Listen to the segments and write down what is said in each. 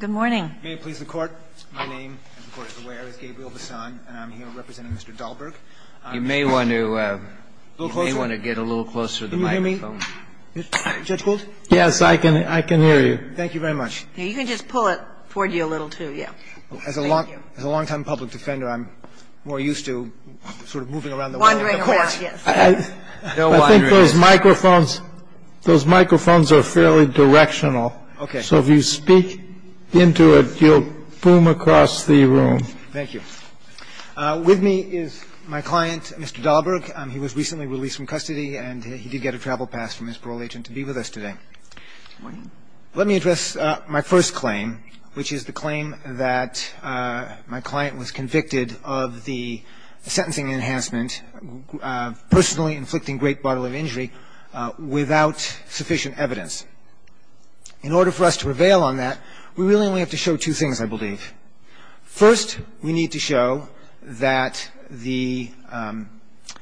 Good morning. May it please the Court. My name, as the Court is aware, is Gabriel Bassan, and I'm here representing Mr. Dahlberg. You may want to get a little closer to the microphone. Can you hear me, Judge Gould? Yes, I can hear you. Thank you very much. You can just pull it toward you a little, too, yeah. As a long-time public defender, I'm more used to sort of moving around the world. Wandering around, yes. I think those microphones are fairly directional. Okay. So if you speak into it, you'll boom across the room. Thank you. With me is my client, Mr. Dahlberg. He was recently released from custody, and he did get a travel pass from his parole agent to be with us today. Good morning. Let me address my first claim, which is the claim that my client was convicted of the sentencing enhancement, personally inflicting great bodily injury, without sufficient evidence. In order for us to prevail on that, we really only have to show two things, I believe. First, we need to show that the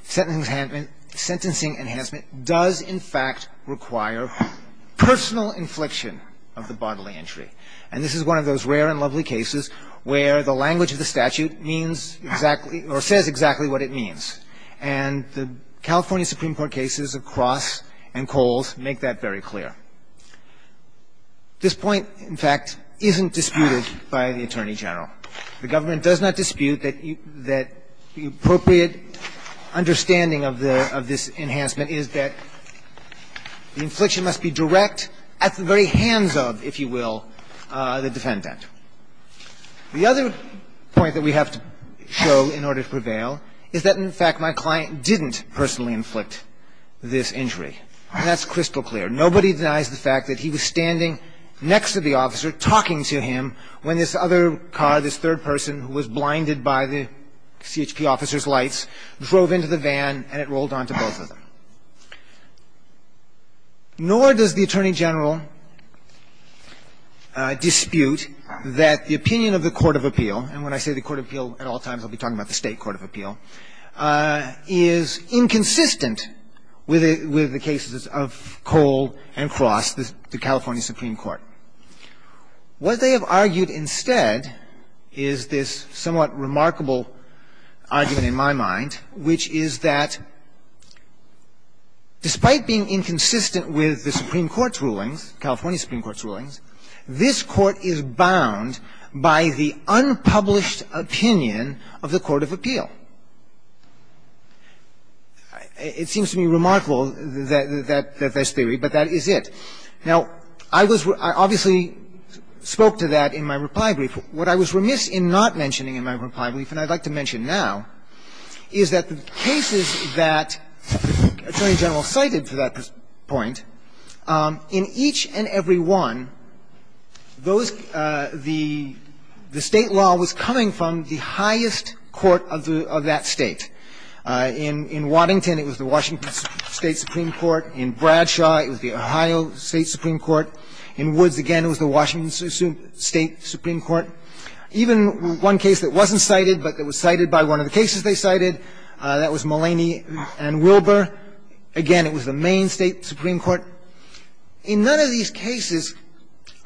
sentencing enhancement does, in fact, require personal infliction of the bodily injury. And this is one of those rare and lovely cases where the language of the statute means exactly or says exactly what it means. And the California Supreme Court cases of Cross and Coles make that very clear. This point, in fact, isn't disputed by the Attorney General. The government does not dispute that the appropriate understanding of this enhancement is that the infliction must be direct at the very hands of, if you will, the defendant. The other point that we have to show in order to prevail is that, in fact, my client didn't personally inflict this injury. And that's crystal clear. Nobody denies the fact that he was standing next to the officer talking to him when this other car, this third person who was blinded by the CHP officer's lights, drove into the van and it rolled onto both of them. Nor does the Attorney General dispute that the opinion of the court of appeal, and when I say the court of appeal at all times, I'll be talking about the State Supreme Court of Appeal, is inconsistent with the cases of Cole and Cross, the California Supreme Court. What they have argued instead is this somewhat remarkable argument in my mind, which is that despite being inconsistent with the Supreme Court's rulings, California Supreme Court's rulings, this Court is bound by the unpublished opinion of the court of appeal. It seems to me remarkable, that this theory, but that is it. Now, I was – I obviously spoke to that in my reply brief. What I was remiss in not mentioning in my reply brief, and I'd like to mention now, is that the cases that the Attorney General cited for that point, in each and every one, those – the State law was coming from the highest court of that State. In Waddington, it was the Washington State Supreme Court. In Bradshaw, it was the Ohio State Supreme Court. In Woods, again, it was the Washington State Supreme Court. Even one case that wasn't cited but that was cited by one of the cases they cited, that was Mulaney v. Wilbur. Again, it was the Maine State Supreme Court. In none of these cases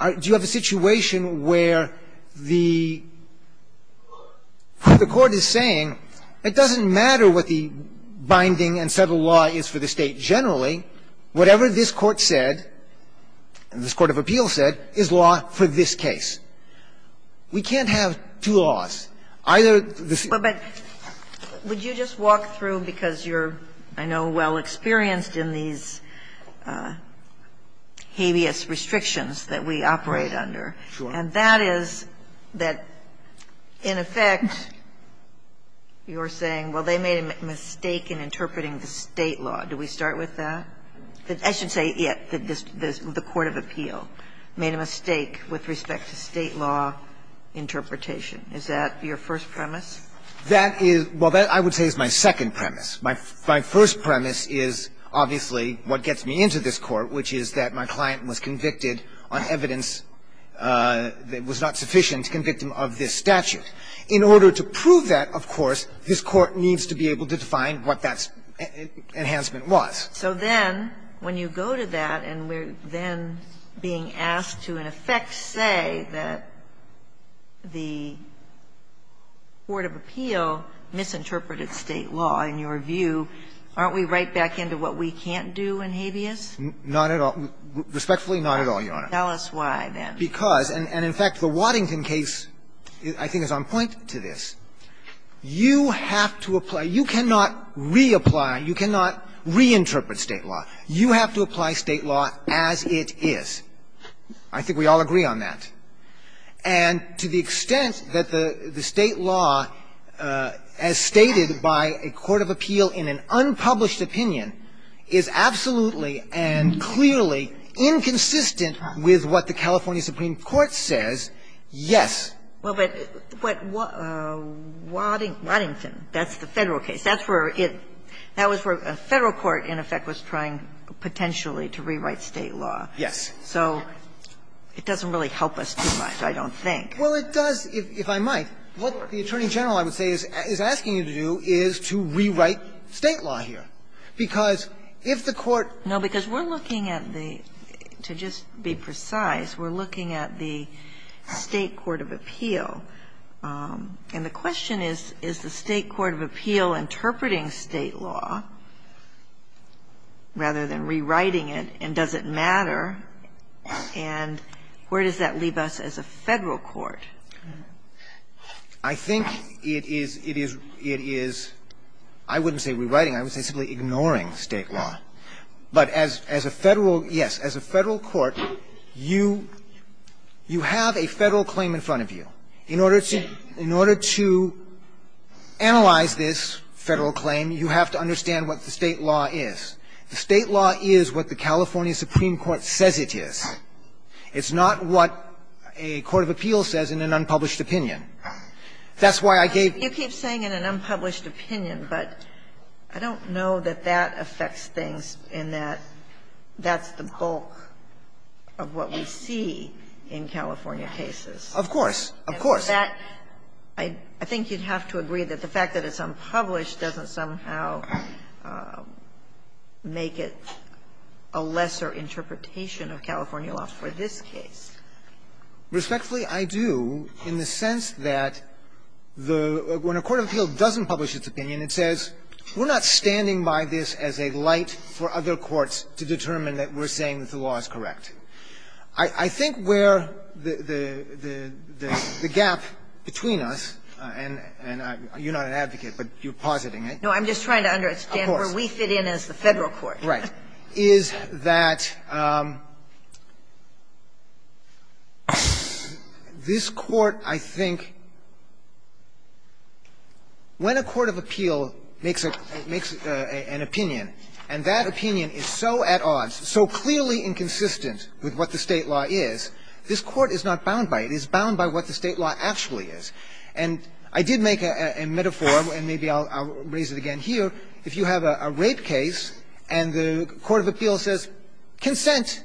do you have a situation where the court is saying, it doesn't matter what the binding and settled law is for the State generally, whatever this court said, this court of appeal said, is law for this case. We can't have two laws. Either the State or the State. And I'm just going to ask you a question, because you're, I know, well experienced in these habeas restrictions that we operate under. And that is that, in effect, you're saying, well, they made a mistake in interpreting the State law. Do we start with that? I should say, yes, the court of appeal made a mistake with respect to State law interpretation. Is that your first premise? That is – well, that, I would say, is my second premise. My first premise is, obviously, what gets me into this Court, which is that my client was convicted on evidence that was not sufficient to convict him of this statute. In order to prove that, of course, this Court needs to be able to define what that enhancement was. So then, when you go to that, and we're then being asked to, in effect, say that the court of appeal misinterpreted State law, in your view, aren't we right back into what we can't do in habeas? Not at all. Respectfully, not at all, Your Honor. Tell us why, then. Because, and in fact, the Waddington case, I think, is on point to this. You have to apply – you cannot reapply, you cannot reinterpret State law. You have to apply State law as it is. I think we all agree on that. And to the extent that the State law, as stated by a court of appeal in an unpublished opinion, is absolutely and clearly inconsistent with what the California Supreme Court says, yes. Well, but Waddington, that's the Federal case. That's where it – that was where Federal court, in effect, was trying, potentially, to rewrite State law. Yes. So it doesn't really help us too much, I don't think. Well, it does, if I might. What the Attorney General, I would say, is asking you to do is to rewrite State law here. Because if the court – No, because we're looking at the – to just be precise, we're looking at the State court of appeal. And the question is, is the State court of appeal interpreting State law rather than rewriting it, and does it matter, and where does that leave us as a Federal court? I think it is – it is – it is – I wouldn't say rewriting. I would say simply ignoring State law. But as a Federal – yes, as a Federal court, you – you have a Federal claim in front of you. In order to – in order to analyze this Federal claim, you have to understand what the State law is. The State law is what the California Supreme Court says it is. It's not what a court of appeal says in an unpublished opinion. That's why I gave – You keep saying in an unpublished opinion, but I don't know that that affects things in that that's the bulk of what we see in California cases. Of course. Of course. I think you'd have to agree that the fact that it's unpublished doesn't somehow make it a lesser interpretation of California law for this case. Respectfully, I do, in the sense that the – when a court of appeal doesn't publish its opinion, it says, we're not standing by this as a light for other courts to determine that we're saying that the law is correct. I think where the – the gap between us, and I – you're not an advocate, but you're positing it. No, I'm just trying to understand where we fit in as the Federal court. Right. Is that this Court, I think – when a court of appeal makes a – makes an opinion, and that opinion is so at odds, so clearly inconsistent with what the State law is, this Court is not bound by it. It is bound by what the State law actually is. And I did make a metaphor, and maybe I'll raise it again here. If you have a rape case and the court of appeal says, consent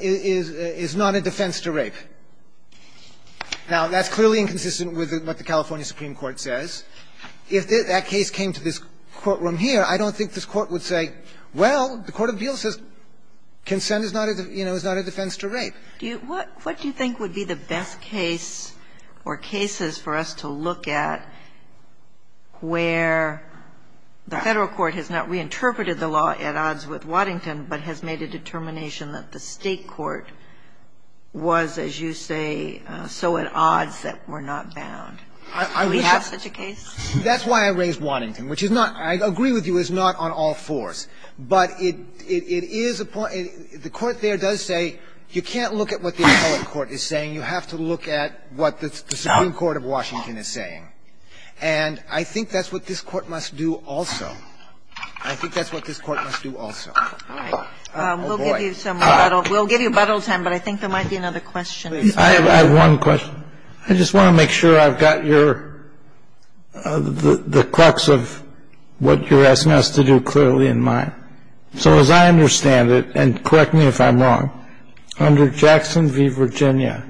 is not a defense to rape. Now, that's clearly inconsistent with what the California Supreme Court says. If that case came to this courtroom here, I don't think this Court would say, well, the court of appeal says, consent is not a – you know, is not a defense to rape. Do you – what do you think would be the best case or cases for us to look at where the Federal court has not reinterpreted the law at odds with Waddington, but has made a determination that the State court was, as you say, so at odds that we're not bound? Do we have such a case? That's why I raised Waddington, which is not – I agree with you, is not on all fours. But it is a point – the court there does say you can't look at what the appellate court is saying. You have to look at what the Supreme Court of Washington is saying. And I think that's what this Court must do also. I think that's what this Court must do also. Oh, boy. We'll give you some more time. We'll give you about all the time, but I think there might be another question. I have one question. I just want to make sure I've got your – the crux of what you're asking us to do clearly in mind. So, as I understand it – and correct me if I'm wrong – under Jackson v. Virginia,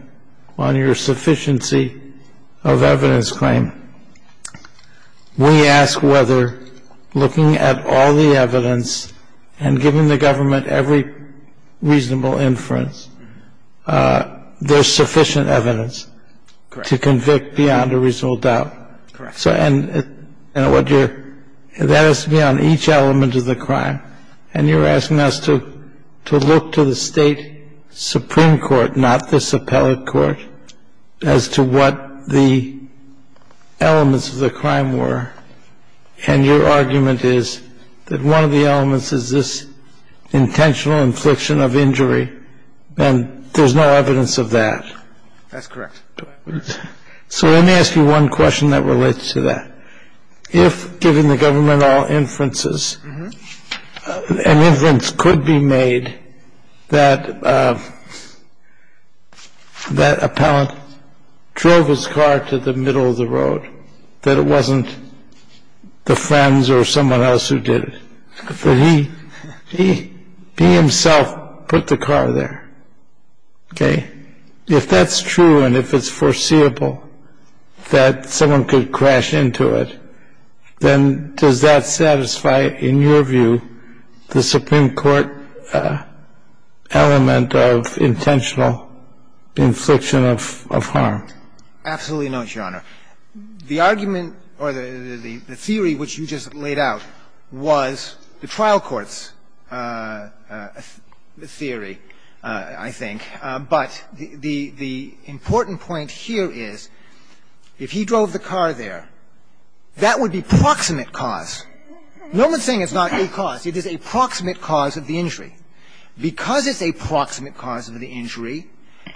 on your sufficiency of evidence claim, we ask whether, looking at all the evidence and giving the government every reasonable inference, there's sufficient evidence to convict beyond a reasonable doubt. Correct. So, and what you're – that has to be on each element of the crime. And you're asking us to look to the State Supreme Court, not this appellate court, as to what the elements of the crime were. And your argument is that one of the elements is this intentional infliction of injury, and there's no evidence of that. That's correct. So, let me ask you one question that relates to that. If, given the government all inferences, an inference could be made that that appellant drove his car to the middle of the road, that it wasn't the friends or someone else who did it, that he himself put the car there, okay? If that's true and if it's foreseeable that someone could crash into it, then does that satisfy, in your view, the Supreme Court element of intentional infliction of harm? Absolutely not, Your Honor. The argument or the theory which you just laid out was the trial court's theory, I think. But the important point here is, if he drove the car there, that would be proximate cause. No one's saying it's not a cause. It is a proximate cause of the injury. Because it's a proximate cause of the injury,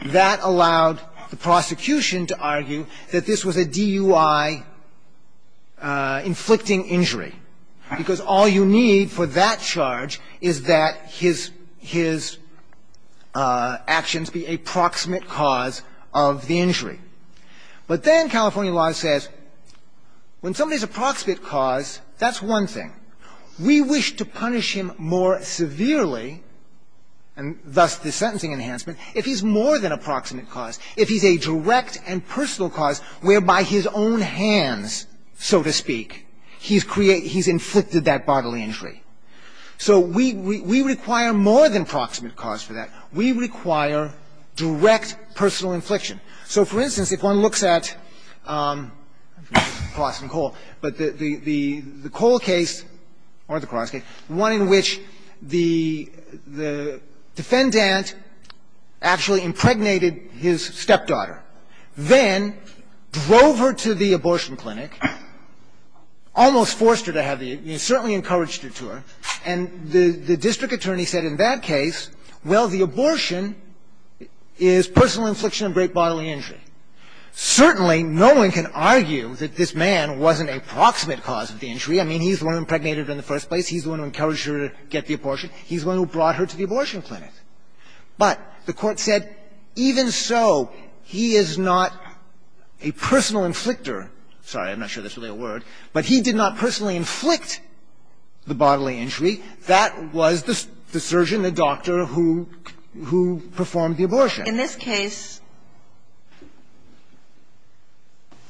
that allowed the prosecution to argue that this was a DUI-inflicting injury, because all you need for that charge is that his actions be a proximate cause of the injury. But then California law says, when somebody's a proximate cause, that's one thing. We wish to punish him more severely, and thus the sentencing enhancement, if he's more than a proximate cause, if he's a direct and personal cause whereby his own hands, so to speak, he's inflicted that bodily injury. So we require more than proximate cause for that. We require direct personal infliction. So, for instance, if one looks at Colston Cole, but the Cole case, or the Cross case, one in which the defendant actually impregnated his stepdaughter, then drove her to the abortion clinic, almost forced her to have the – you know, certainly encouraged her to her, and the district attorney said in that case, well, the abortion is personal infliction of great bodily injury. Certainly, no one can argue that this man wasn't a proximate cause of the injury. I mean, he's the one who impregnated her in the first place. He's the one who encouraged her to get the abortion. He's the one who brought her to the abortion clinic. But the Court said, even so, he is not a personal inflictor. Sorry, I'm not sure that's really a word. But he did not personally inflict the bodily injury. That was the surgeon, the doctor who performed the abortion. Kagan. In this case,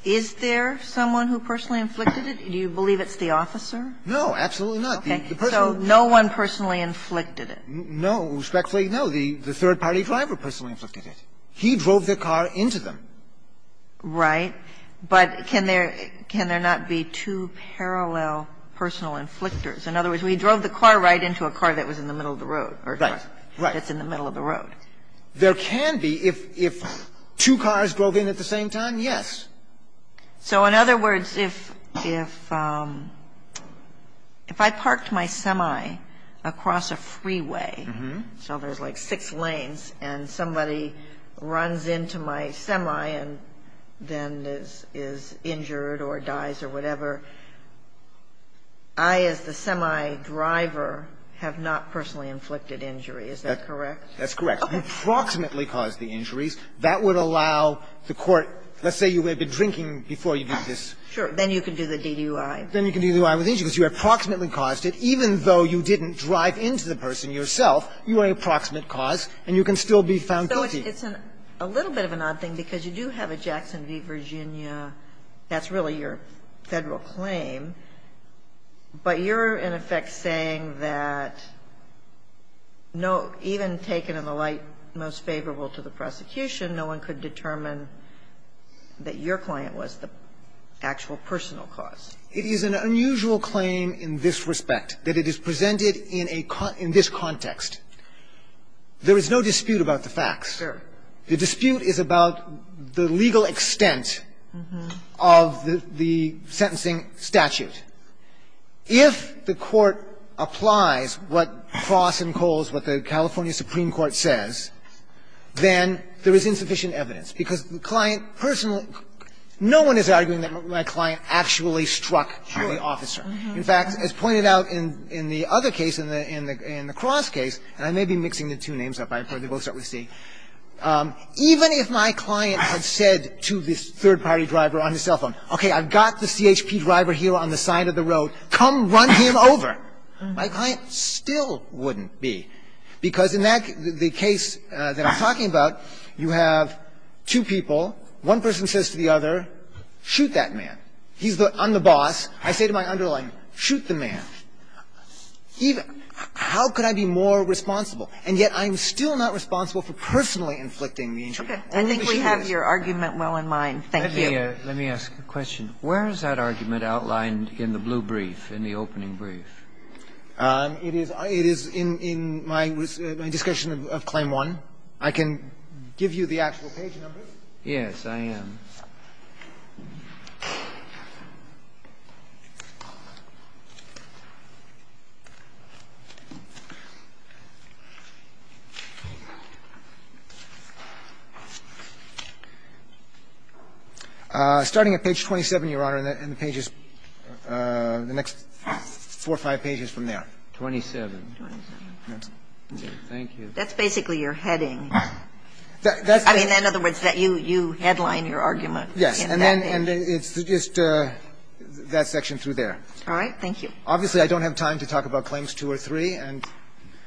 is there someone who personally inflicted it? Do you believe it's the officer? No, absolutely not. The person who – Okay. So no one personally inflicted it. No, respectfully, no. The third-party driver personally inflicted it. He drove the car into them. Right. But can there – can there not be two parallel personal inflictors? In other words, he drove the car right into a car that was in the middle of the road or a truck that's in the middle of the road. Right. There can be, if two cars drove in at the same time, yes. So in other words, if – if I parked my semi across a freeway, so there's like six lanes, and somebody runs into my semi and then is injured or dies or whatever, I as the semi driver have not personally inflicted injury. Is that correct? That's correct. You approximately caused the injuries. That would allow the court – let's say you had been drinking before you did this. Sure. Then you can do the DUI. Then you can do the DUI with injury because you approximately caused it. Even though you didn't drive into the person yourself, you are an approximate cause, and you can still be found guilty. So it's a little bit of an odd thing because you do have a Jackson v. Virginia – that's really your Federal claim, but you're in effect saying that no – even taken in the light most favorable to the prosecution, no one could determine that your client was the actual personal cause. It is an unusual claim in this respect, that it is presented in a – in this context. There is no dispute about the facts. Sure. The dispute is about the legal extent of the – the sentencing statute. If the court applies what Cross and Coles, what the California Supreme Court says, then there is insufficient evidence because the client personally – no one is arguing that my client actually struck the officer. In fact, as pointed out in the other case, in the Cross case, and I may be mixing the two names up. I'm afraid we'll start with C. Even if my client had said to this third-party driver on his cell phone, okay, I've got the CHP driver here on the side of the road, come run him over, my client still wouldn't be. Because in that – the case that I'm talking about, you have two people, one person says to the other, shoot that man. He's the – I'm the boss, I say to my underling, shoot the man. Even – how could I be more responsible? And yet I'm still not responsible for personally inflicting the injury. All the machinery is. I think we have your argument well in mind. Thank you. Kennedy, let me ask a question. Where is that argument outlined in the blue brief, in the opening brief? It is in my discussion of Claim 1. I can give you the actual page numbers. Yes, I am. Starting at page 27, Your Honor, and the pages – the next four or five pages from there. Twenty-seven. Twenty-seven. Thank you. That's basically your heading. I mean, in other words, that you – you headline your argument. Yes. And then – and then it's just that section through there. All right. Thank you. Obviously, I don't have time to talk about Claims 2 or 3, and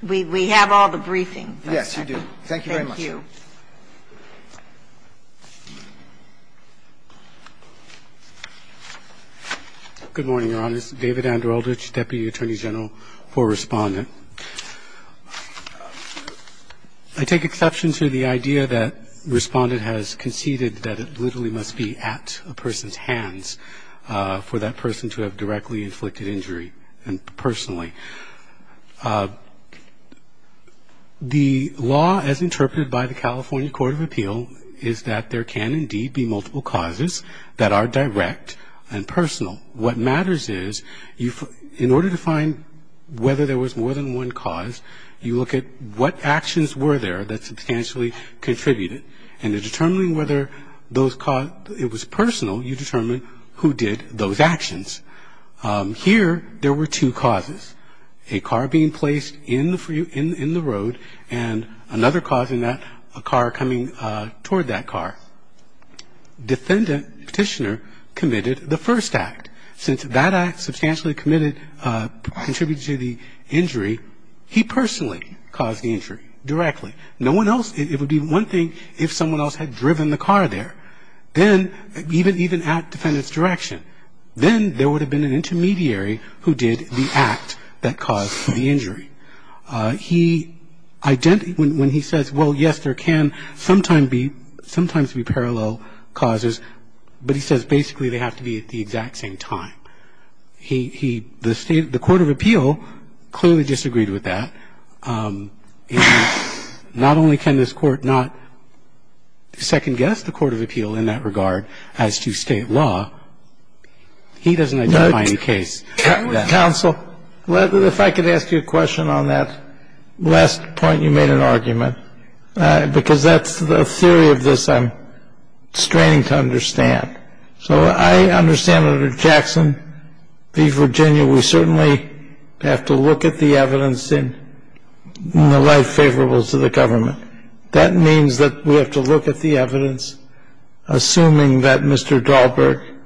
we have all the briefings. Yes, you do. Thank you very much. Thank you. Good morning, Your Honor. This is David Andreldich, Deputy Attorney General for Respondent. I take exception to the idea that Respondent has conceded that it literally must be at a person's hands for that person to have directly inflicted injury, and personally. The law as interpreted by the California Court of Appeal is that there can indeed be multiple causes that are direct and personal. What matters is you – in order to find whether there was more than one cause, you look at what actions were there that substantially contributed. And in determining whether those – it was personal, you determine who did those actions. Here, there were two causes, a car being placed in the – in the road, and another cause in that, a car coming toward that car. Now, the defendant petitioner committed the first act. Since that act substantially committed – contributed to the injury, he personally caused the injury directly. No one else – it would be one thing if someone else had driven the car there. Then, even at defendant's direction, then there would have been an intermediary who did the act that caused the injury. He – when he says, well, yes, there can sometimes be – sometimes be parallel causes, but he says, basically, they have to be at the exact same time. He – the State – the Court of Appeal clearly disagreed with that. And not only can this Court not second-guess the Court of Appeal in that regard as to State law, he doesn't identify any case that – Counsel, if I could ask you a question on that last point you made in argument, because that's the theory of this I'm straining to understand. So I understand under Jackson v. Virginia, we certainly have to look at the evidence in the life favorables of the government. That means that we have to look at the evidence, assuming that Mr. Dahlberg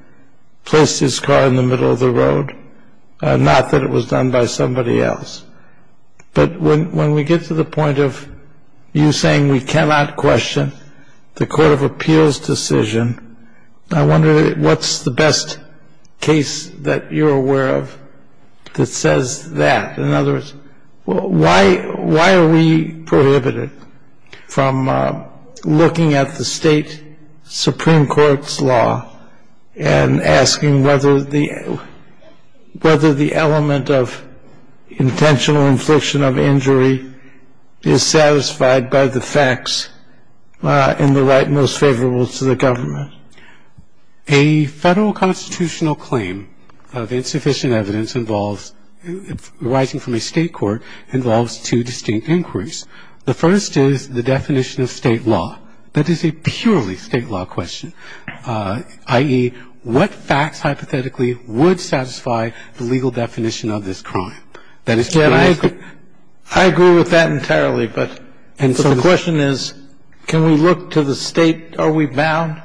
placed his car in the middle of the road, not that it was done by somebody else. But when we get to the point of you saying we cannot question the Court of Appeal's decision, I wonder what's the best case that you're aware of that says that. In other words, why are we prohibited from looking at the State Supreme Court's law and asking whether the element of intentional infliction of injury is satisfied by the facts in the right most favorable to the government? The answer is that it's a purely State law question. And the answer to that is that a Federal constitutional claim of insufficient evidence involves, arising from a State court, involves two distinct inquiries. The first is the definition of State law. That is a purely State law question, i.e., what facts hypothetically would satisfy the legal definition of this crime. That is purely State law. And I agree with that entirely, but the question is, can we look to the State? Are we bound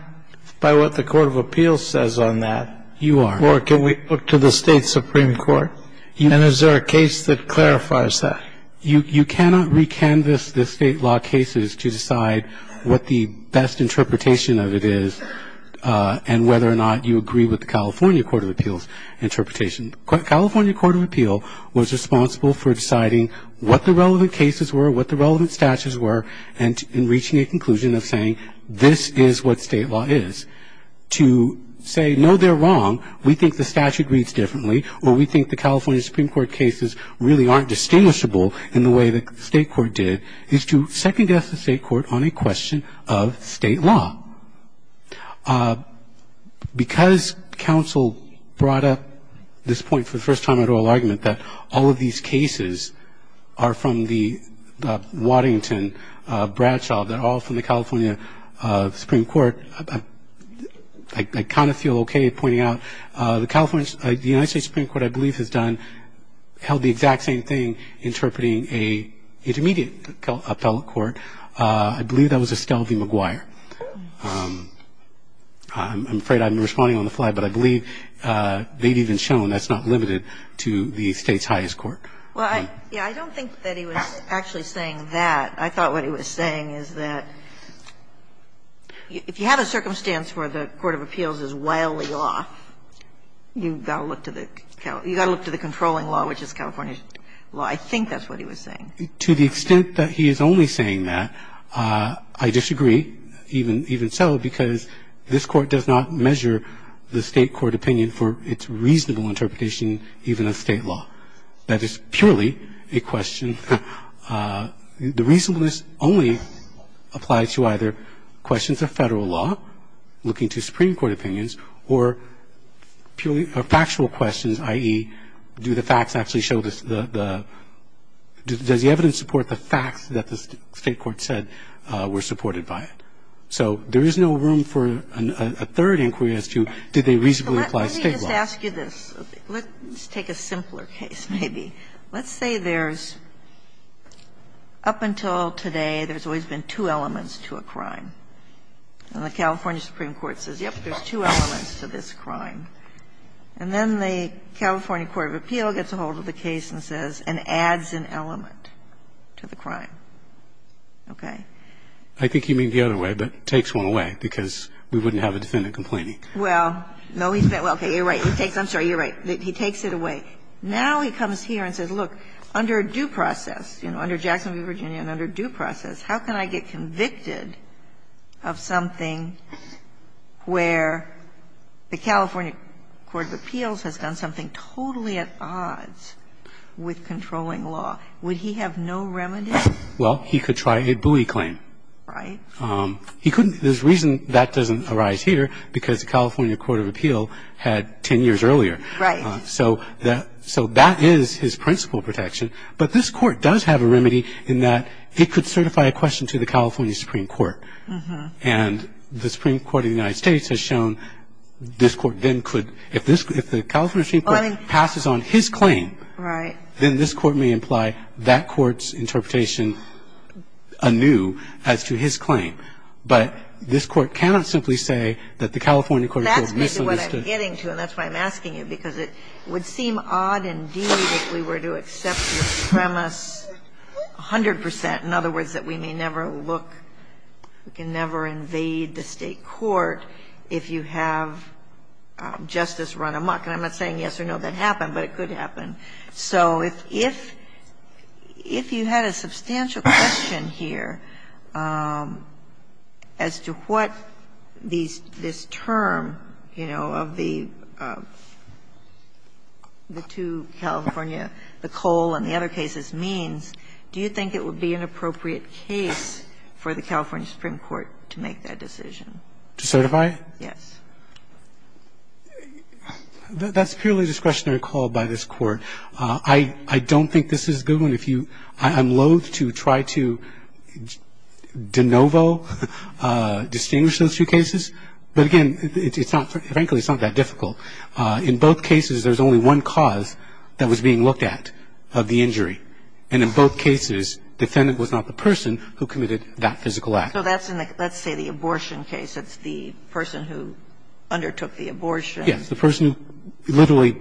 by what the Court of Appeal says on that? You are. Or can we look to the State Supreme Court? And is there a case that clarifies that? You cannot recanvass the State law cases to decide what the best interpretation of it is and whether or not you agree with the California Court of Appeal's interpretation. California Court of Appeal was responsible for deciding what the relevant cases were, what the relevant statutes were, and reaching a conclusion of saying this is what State law is. To say, no, they're wrong, we think the statute reads differently, or we think the California Supreme Court cases really aren't distinguishable in the way that the State court did, is to second guess the State court on a question of State law. Because counsel brought up this point for the first time at oral argument, that all of these cases are from the Waddington Bradshaw, they're all from the California Supreme Court, I kind of feel okay pointing out. The United States Supreme Court, I believe, has done, held the exact same thing interpreting a intermediate appellate court. I believe that was Estelle v. McGuire. I'm afraid I'm responding on the fly, but I believe they've even shown that's not limited to the State's highest court. Well, I don't think that he was actually saying that. I thought what he was saying is that if you have a circumstance where the court of appeals is wildly off, you've got to look to the controlling law, which is California's law. I think that's what he was saying. To the extent that he is only saying that, I disagree, even so, because this Court does not measure the State court opinion for its reasonable interpretation even of State law. That is purely a question, the reasonableness only applies to either questions of Federal law, looking to Supreme Court opinions, or purely factual questions, i.e., do the facts actually show the the does the evidence support the facts that the State court said were supported by it. So there is no room for a third inquiry as to did they reasonably apply State law. Let me just ask you this. Let's take a simpler case, maybe. Let's say there's, up until today, there's always been two elements to a crime. And the California Supreme Court says, yes, there's two elements to this crime. And then the California court of appeal gets a hold of the case and says, and adds an element to the crime. Okay? I think you mean the other way, but takes one away, because we wouldn't have a defendant complaining. Well, no, he's been – okay, you're right. He takes – I'm sorry, you're right. He takes it away. Now he comes here and says, look, under due process, you know, under Jackson v. Virginia and under due process, how can I get convicted of something where the California court of appeals has done something totally at odds with controlling law? Would he have no remedy? Well, he could try a buoy claim. Right. He couldn't – there's a reason that doesn't arise here, because the California court of appeal had 10 years earlier. Right. So that – so that is his principal protection. But this Court does have a remedy in that it could certify a question to the California Supreme Court. And the Supreme Court of the United States has shown this Court then could – if this – if the California Supreme Court passes on his claim, then this Court may imply that court's interpretation anew as to his claim. But this Court cannot simply say that the California court of appeals misunderstood That's what I'm getting to, and that's why I'm asking you, because it would seem odd indeed if we were to accept your premise 100 percent, in other words, that we may never look – we can never invade the State court if you have justice run amok. And I'm not saying yes or no, that happened, but it could happen. So if you had a substantial question here as to what this term, you know, of the two California, the Cole and the other cases, means, do you think it would be an appropriate case for the California Supreme Court to make that decision? To certify? Yes. That's purely a discretionary call by this Court. I don't think this is a good one. If you – I'm loathe to try to de novo distinguish those two cases, but again, it's not – frankly, it's not that difficult. In both cases, there's only one cause that was being looked at of the injury, and in both cases, defendant was not the person who committed that physical act. So that's in the – let's say the abortion case, it's the person who undertook the abortion. Yes. The person who literally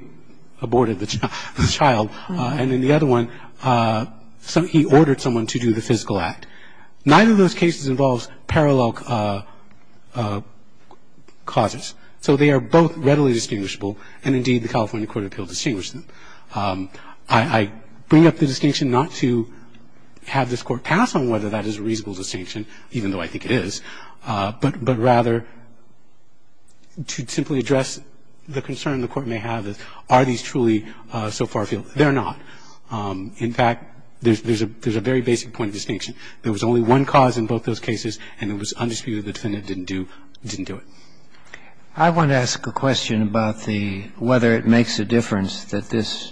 aborted the child. And in the other one, he ordered someone to do the physical act. Neither of those cases involves parallel causes. So they are both readily distinguishable, and indeed, the California court of appeals distinguished them. I don't think that's a reasonable distinction, even though I think it is, but rather to simply address the concern the Court may have is, are these truly so far afield? They're not. In fact, there's a very basic point of distinction. There was only one cause in both those cases, and it was undisputed the defendant didn't do it. I want to ask a question about the – whether it makes a difference that this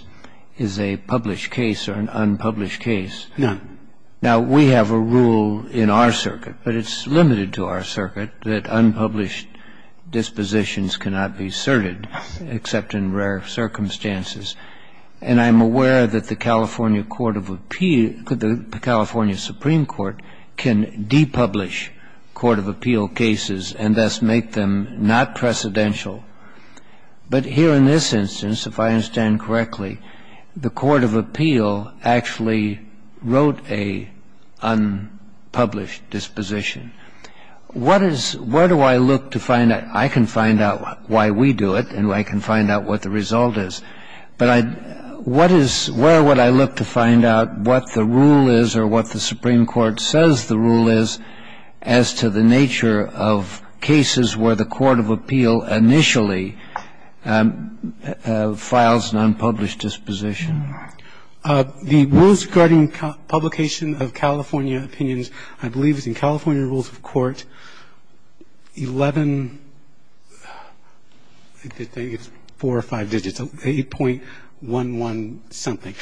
is a published case or an unpublished case. None. Now, we have a rule in our circuit, but it's limited to our circuit, that unpublished dispositions cannot be asserted except in rare circumstances. And I'm aware that the California court of appeals – the California Supreme Court can depublish court of appeal cases and thus make them not precedential. But here in this instance, if I understand correctly, the court of appeal actually wrote a unpublished disposition. What is – where do I look to find out – I can find out why we do it, and I can find out what the result is, but I – what is – where would I look to find out what the rule is or what the Supreme Court says the rule is as to the nature of cases where the court of appeal initially files an unpublished disposition? The rules regarding publication of California opinions, I believe, is in California rules of court, 11 – I think it's four or five digits – 8.11-something.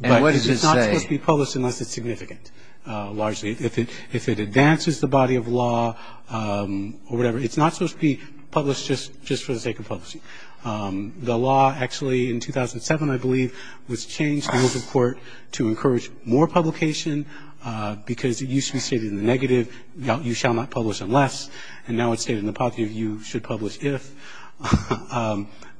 But it's not supposed to be published unless it's significant, largely. If it advances the body of law or whatever, it's not supposed to be published just for the sake of publicity. The law actually in 2007, I believe, was changed in rules of court to encourage more publication because it used to be stated in the negative, you shall not publish unless, and now it's stated in the positive, you should publish if.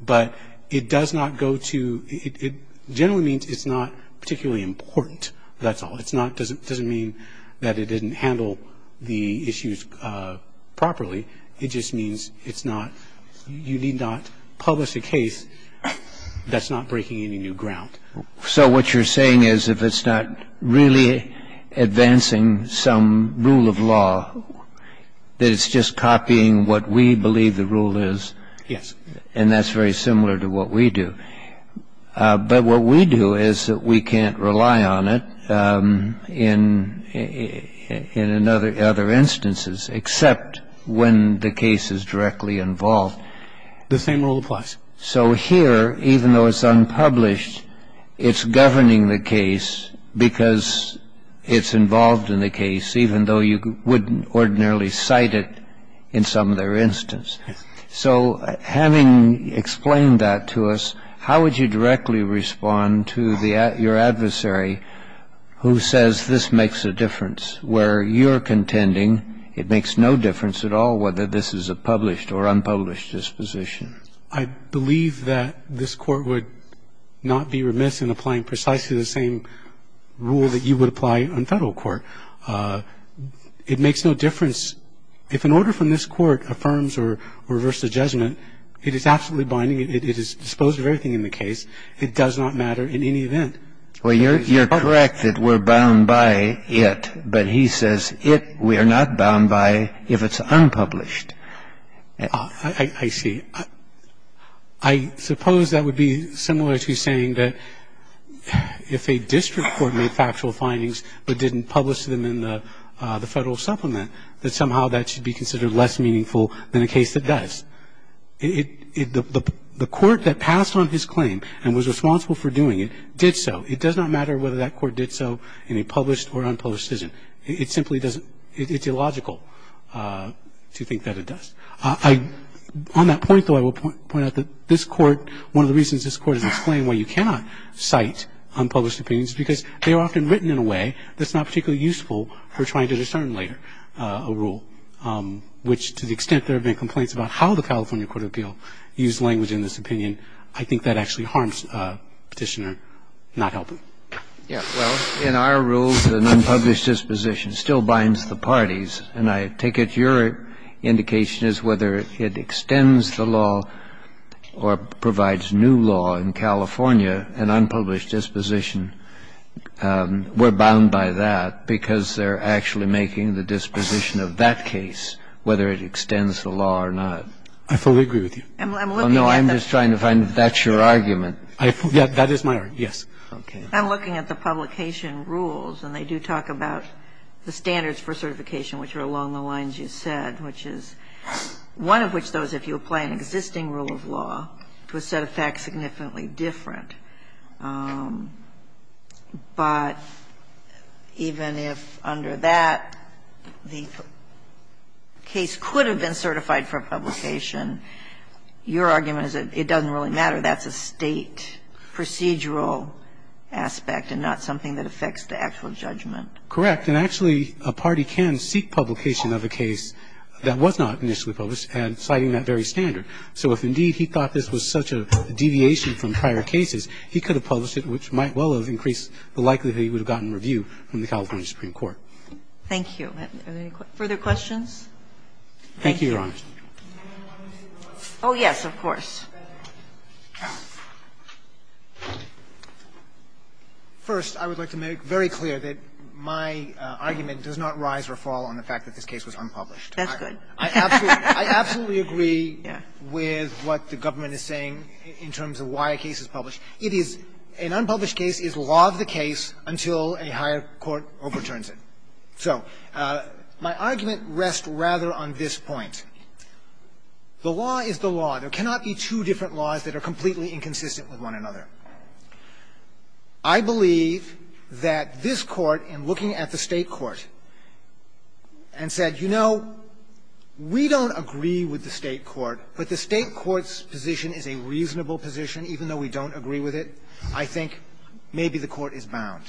But it does not go to – it generally means it's not particularly important. That's all. It's not – it doesn't mean that it didn't handle the issues properly. It just means it's not – you need not publish a case that's not breaking any new ground. So what you're saying is if it's not really advancing some rule of law, that it's just copying what we believe the rule is? Yes. And that's very similar to what we do. But what we do is that we can't rely on it in other instances, except when the case is directly involved. The same rule applies. So here, even though it's unpublished, it's governing the case because it's involved in the case, even though you wouldn't ordinarily cite it in some other instance. So having explained that to us, how would you directly respond to your adversary who says this makes a difference, where you're contending it makes no difference at all whether this is a published or unpublished disposition? I believe that this Court would not be remiss in applying precisely the same rule that you would apply on federal court. It makes no difference. If an order from this Court affirms or reverses judgment, it is absolutely binding. It is disposed of everything in the case. It does not matter in any event. Well, you're correct that we're bound by it. But he says it, we are not bound by if it's unpublished. I see. I suppose that would be similar to saying that if a district court made factual findings but didn't publish them in the Federal Supplement, that somehow that should be considered less meaningful than a case that does. The Court that passed on his claim and was responsible for doing it did so. It does not matter whether that Court did so in a published or unpublished decision. It simply doesn't. It's illogical to think that it does. On that point, though, I will point out that this Court, one of the reasons this Court is explained why you cannot cite unpublished opinions is because they are often written in a way that's not particularly useful for trying to discern later a rule, which to the extent there have been complaints about how the California Court of Appeal used language in this opinion, I think that actually forms a petitioner not helping. Yeah. Well, in our rules, an unpublished disposition still binds the parties. And I take it your indication is whether it extends the law or provides new law in California, an unpublished disposition, we're bound by that because they're actually making the disposition of that case, whether it extends the law or not. I'm looking at the other side. That is my argument, yes. Okay. I'm looking at the publication rules, and they do talk about the standards for certification, which are along the lines you said, which is one of which, though, is if you apply an existing rule of law to a set of facts significantly different. But even if under that, the case could have been certified for publication, your argument is that it doesn't really matter. That's a State procedural aspect and not something that affects the actual judgment. Correct. And actually, a party can seek publication of a case that was not initially published and citing that very standard. So if indeed he thought this was such a deviation from prior cases, he could have published it, which might well have increased the likelihood he would have gotten review from the California Supreme Court. Thank you. Are there any further questions? Thank you, Your Honor. Oh, yes, of course. First, I would like to make very clear that my argument does not rise or fall on the fact that this case was unpublished. That's good. I absolutely agree with what the government is saying in terms of why a case is published. It is an unpublished case is law of the case until a higher court overturns it. So my argument rests rather on this point. The law is the law. There cannot be two different laws that are completely inconsistent with one another. I believe that this Court, in looking at the State court, and said, you know, we don't agree with the State court, but the State court's position is a reasonable position, even though we don't agree with it. I think maybe the court is bound.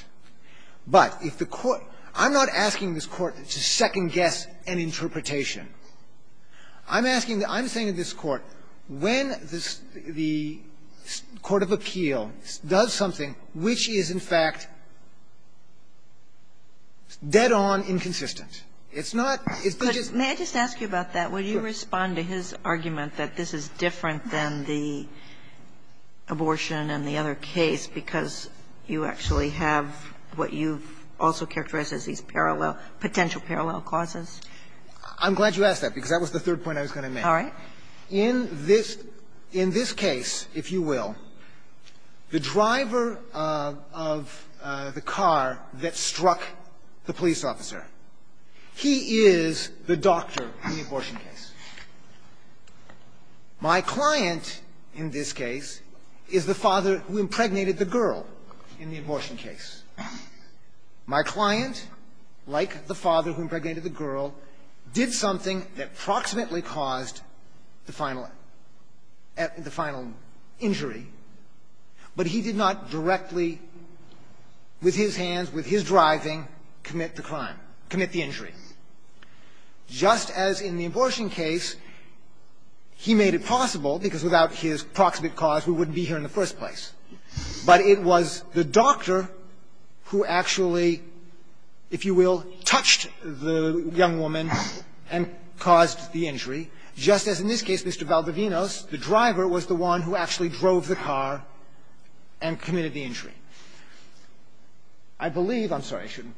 But if the court – I'm not asking this Court to second-guess an interpretation. I'm asking the – I'm saying to this Court, when the court of appeal does something which is, in fact, dead-on inconsistent, it's not – it's not just – May I just ask you about that? Will you respond to his argument that this is different than the abortion and the other case, because you actually have what you've also characterized as these parallel – potential parallel causes? I'm glad you asked that, because that was the third point I was going to make. All right. In this – in this case, if you will, the driver of the car that struck the police officer, he is the doctor in the abortion case. My client, in this case, is the father who impregnated the girl in the abortion case. My client, like the father who impregnated the girl, did something that approximately caused the final – the final injury, but he did not directly, with his hands, with his driving, commit the crime – commit the injury. Just as in the abortion case, he made it possible, because without his proximate cause, we wouldn't be here in the first place. But it was the doctor who actually, if you will, touched the young woman and caused the injury, just as in this case, Mr. Valdovinos, the driver, was the one who actually drove the car and committed the injury. I believe – I'm sorry, I shouldn't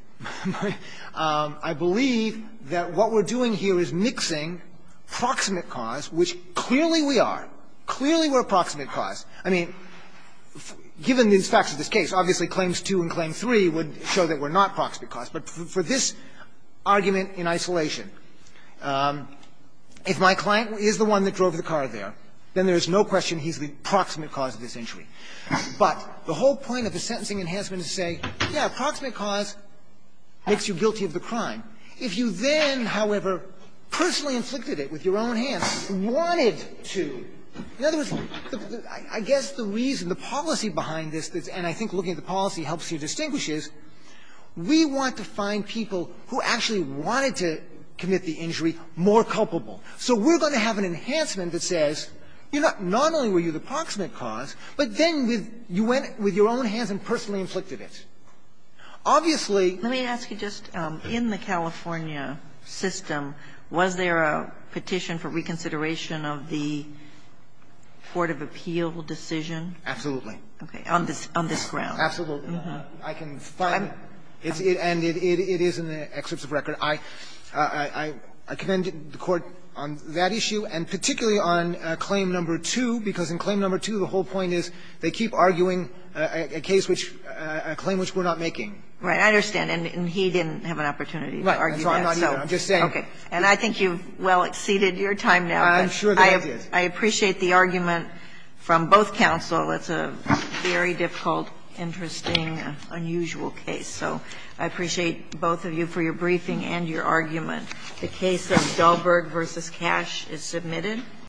– I believe that what we're doing here is mixing proximate cause, which clearly we are, clearly we're a proximate cause. I mean, given the facts of this case, obviously, Claims 2 and Claim 3 would show that we're not proximate cause. But for this argument in isolation, if my client is the one that drove the car there, then there is no question he's the proximate cause of this injury. But the whole point of the sentencing enhancement is to say, yes, proximate cause makes you guilty of the crime. If you then, however, personally inflicted it with your own hands, wanted to – in other words, I guess the reason, the policy behind this, and I think looking at the policy helps you distinguish this, we want to find people who actually wanted to commit the injury more culpable. So we're going to have an enhancement that says you're not – not only were you the one that drove the car there, but then you went with your own hands and personally inflicted it. Obviously – Kagan, let me ask you, just in the California system, was there a petition for reconsideration of the court of appeal decision? Absolutely. Okay. On this ground. Absolutely. I can find it. And it is in the excerpts of record. I commend the Court on that issue and particularly on Claim No. 2, because in Claim No. 2, the whole point is they keep arguing a case which – a claim which we're not making. Right. I understand. And he didn't have an opportunity to argue that. Right. That's why I'm not here. I'm just saying. Okay. And I think you've well exceeded your time now. I'm sure that I did. I appreciate the argument from both counsel. It's a very difficult, interesting, unusual case. So I appreciate both of you for your briefing and your argument. The case of Dahlberg v. Cash is submitted.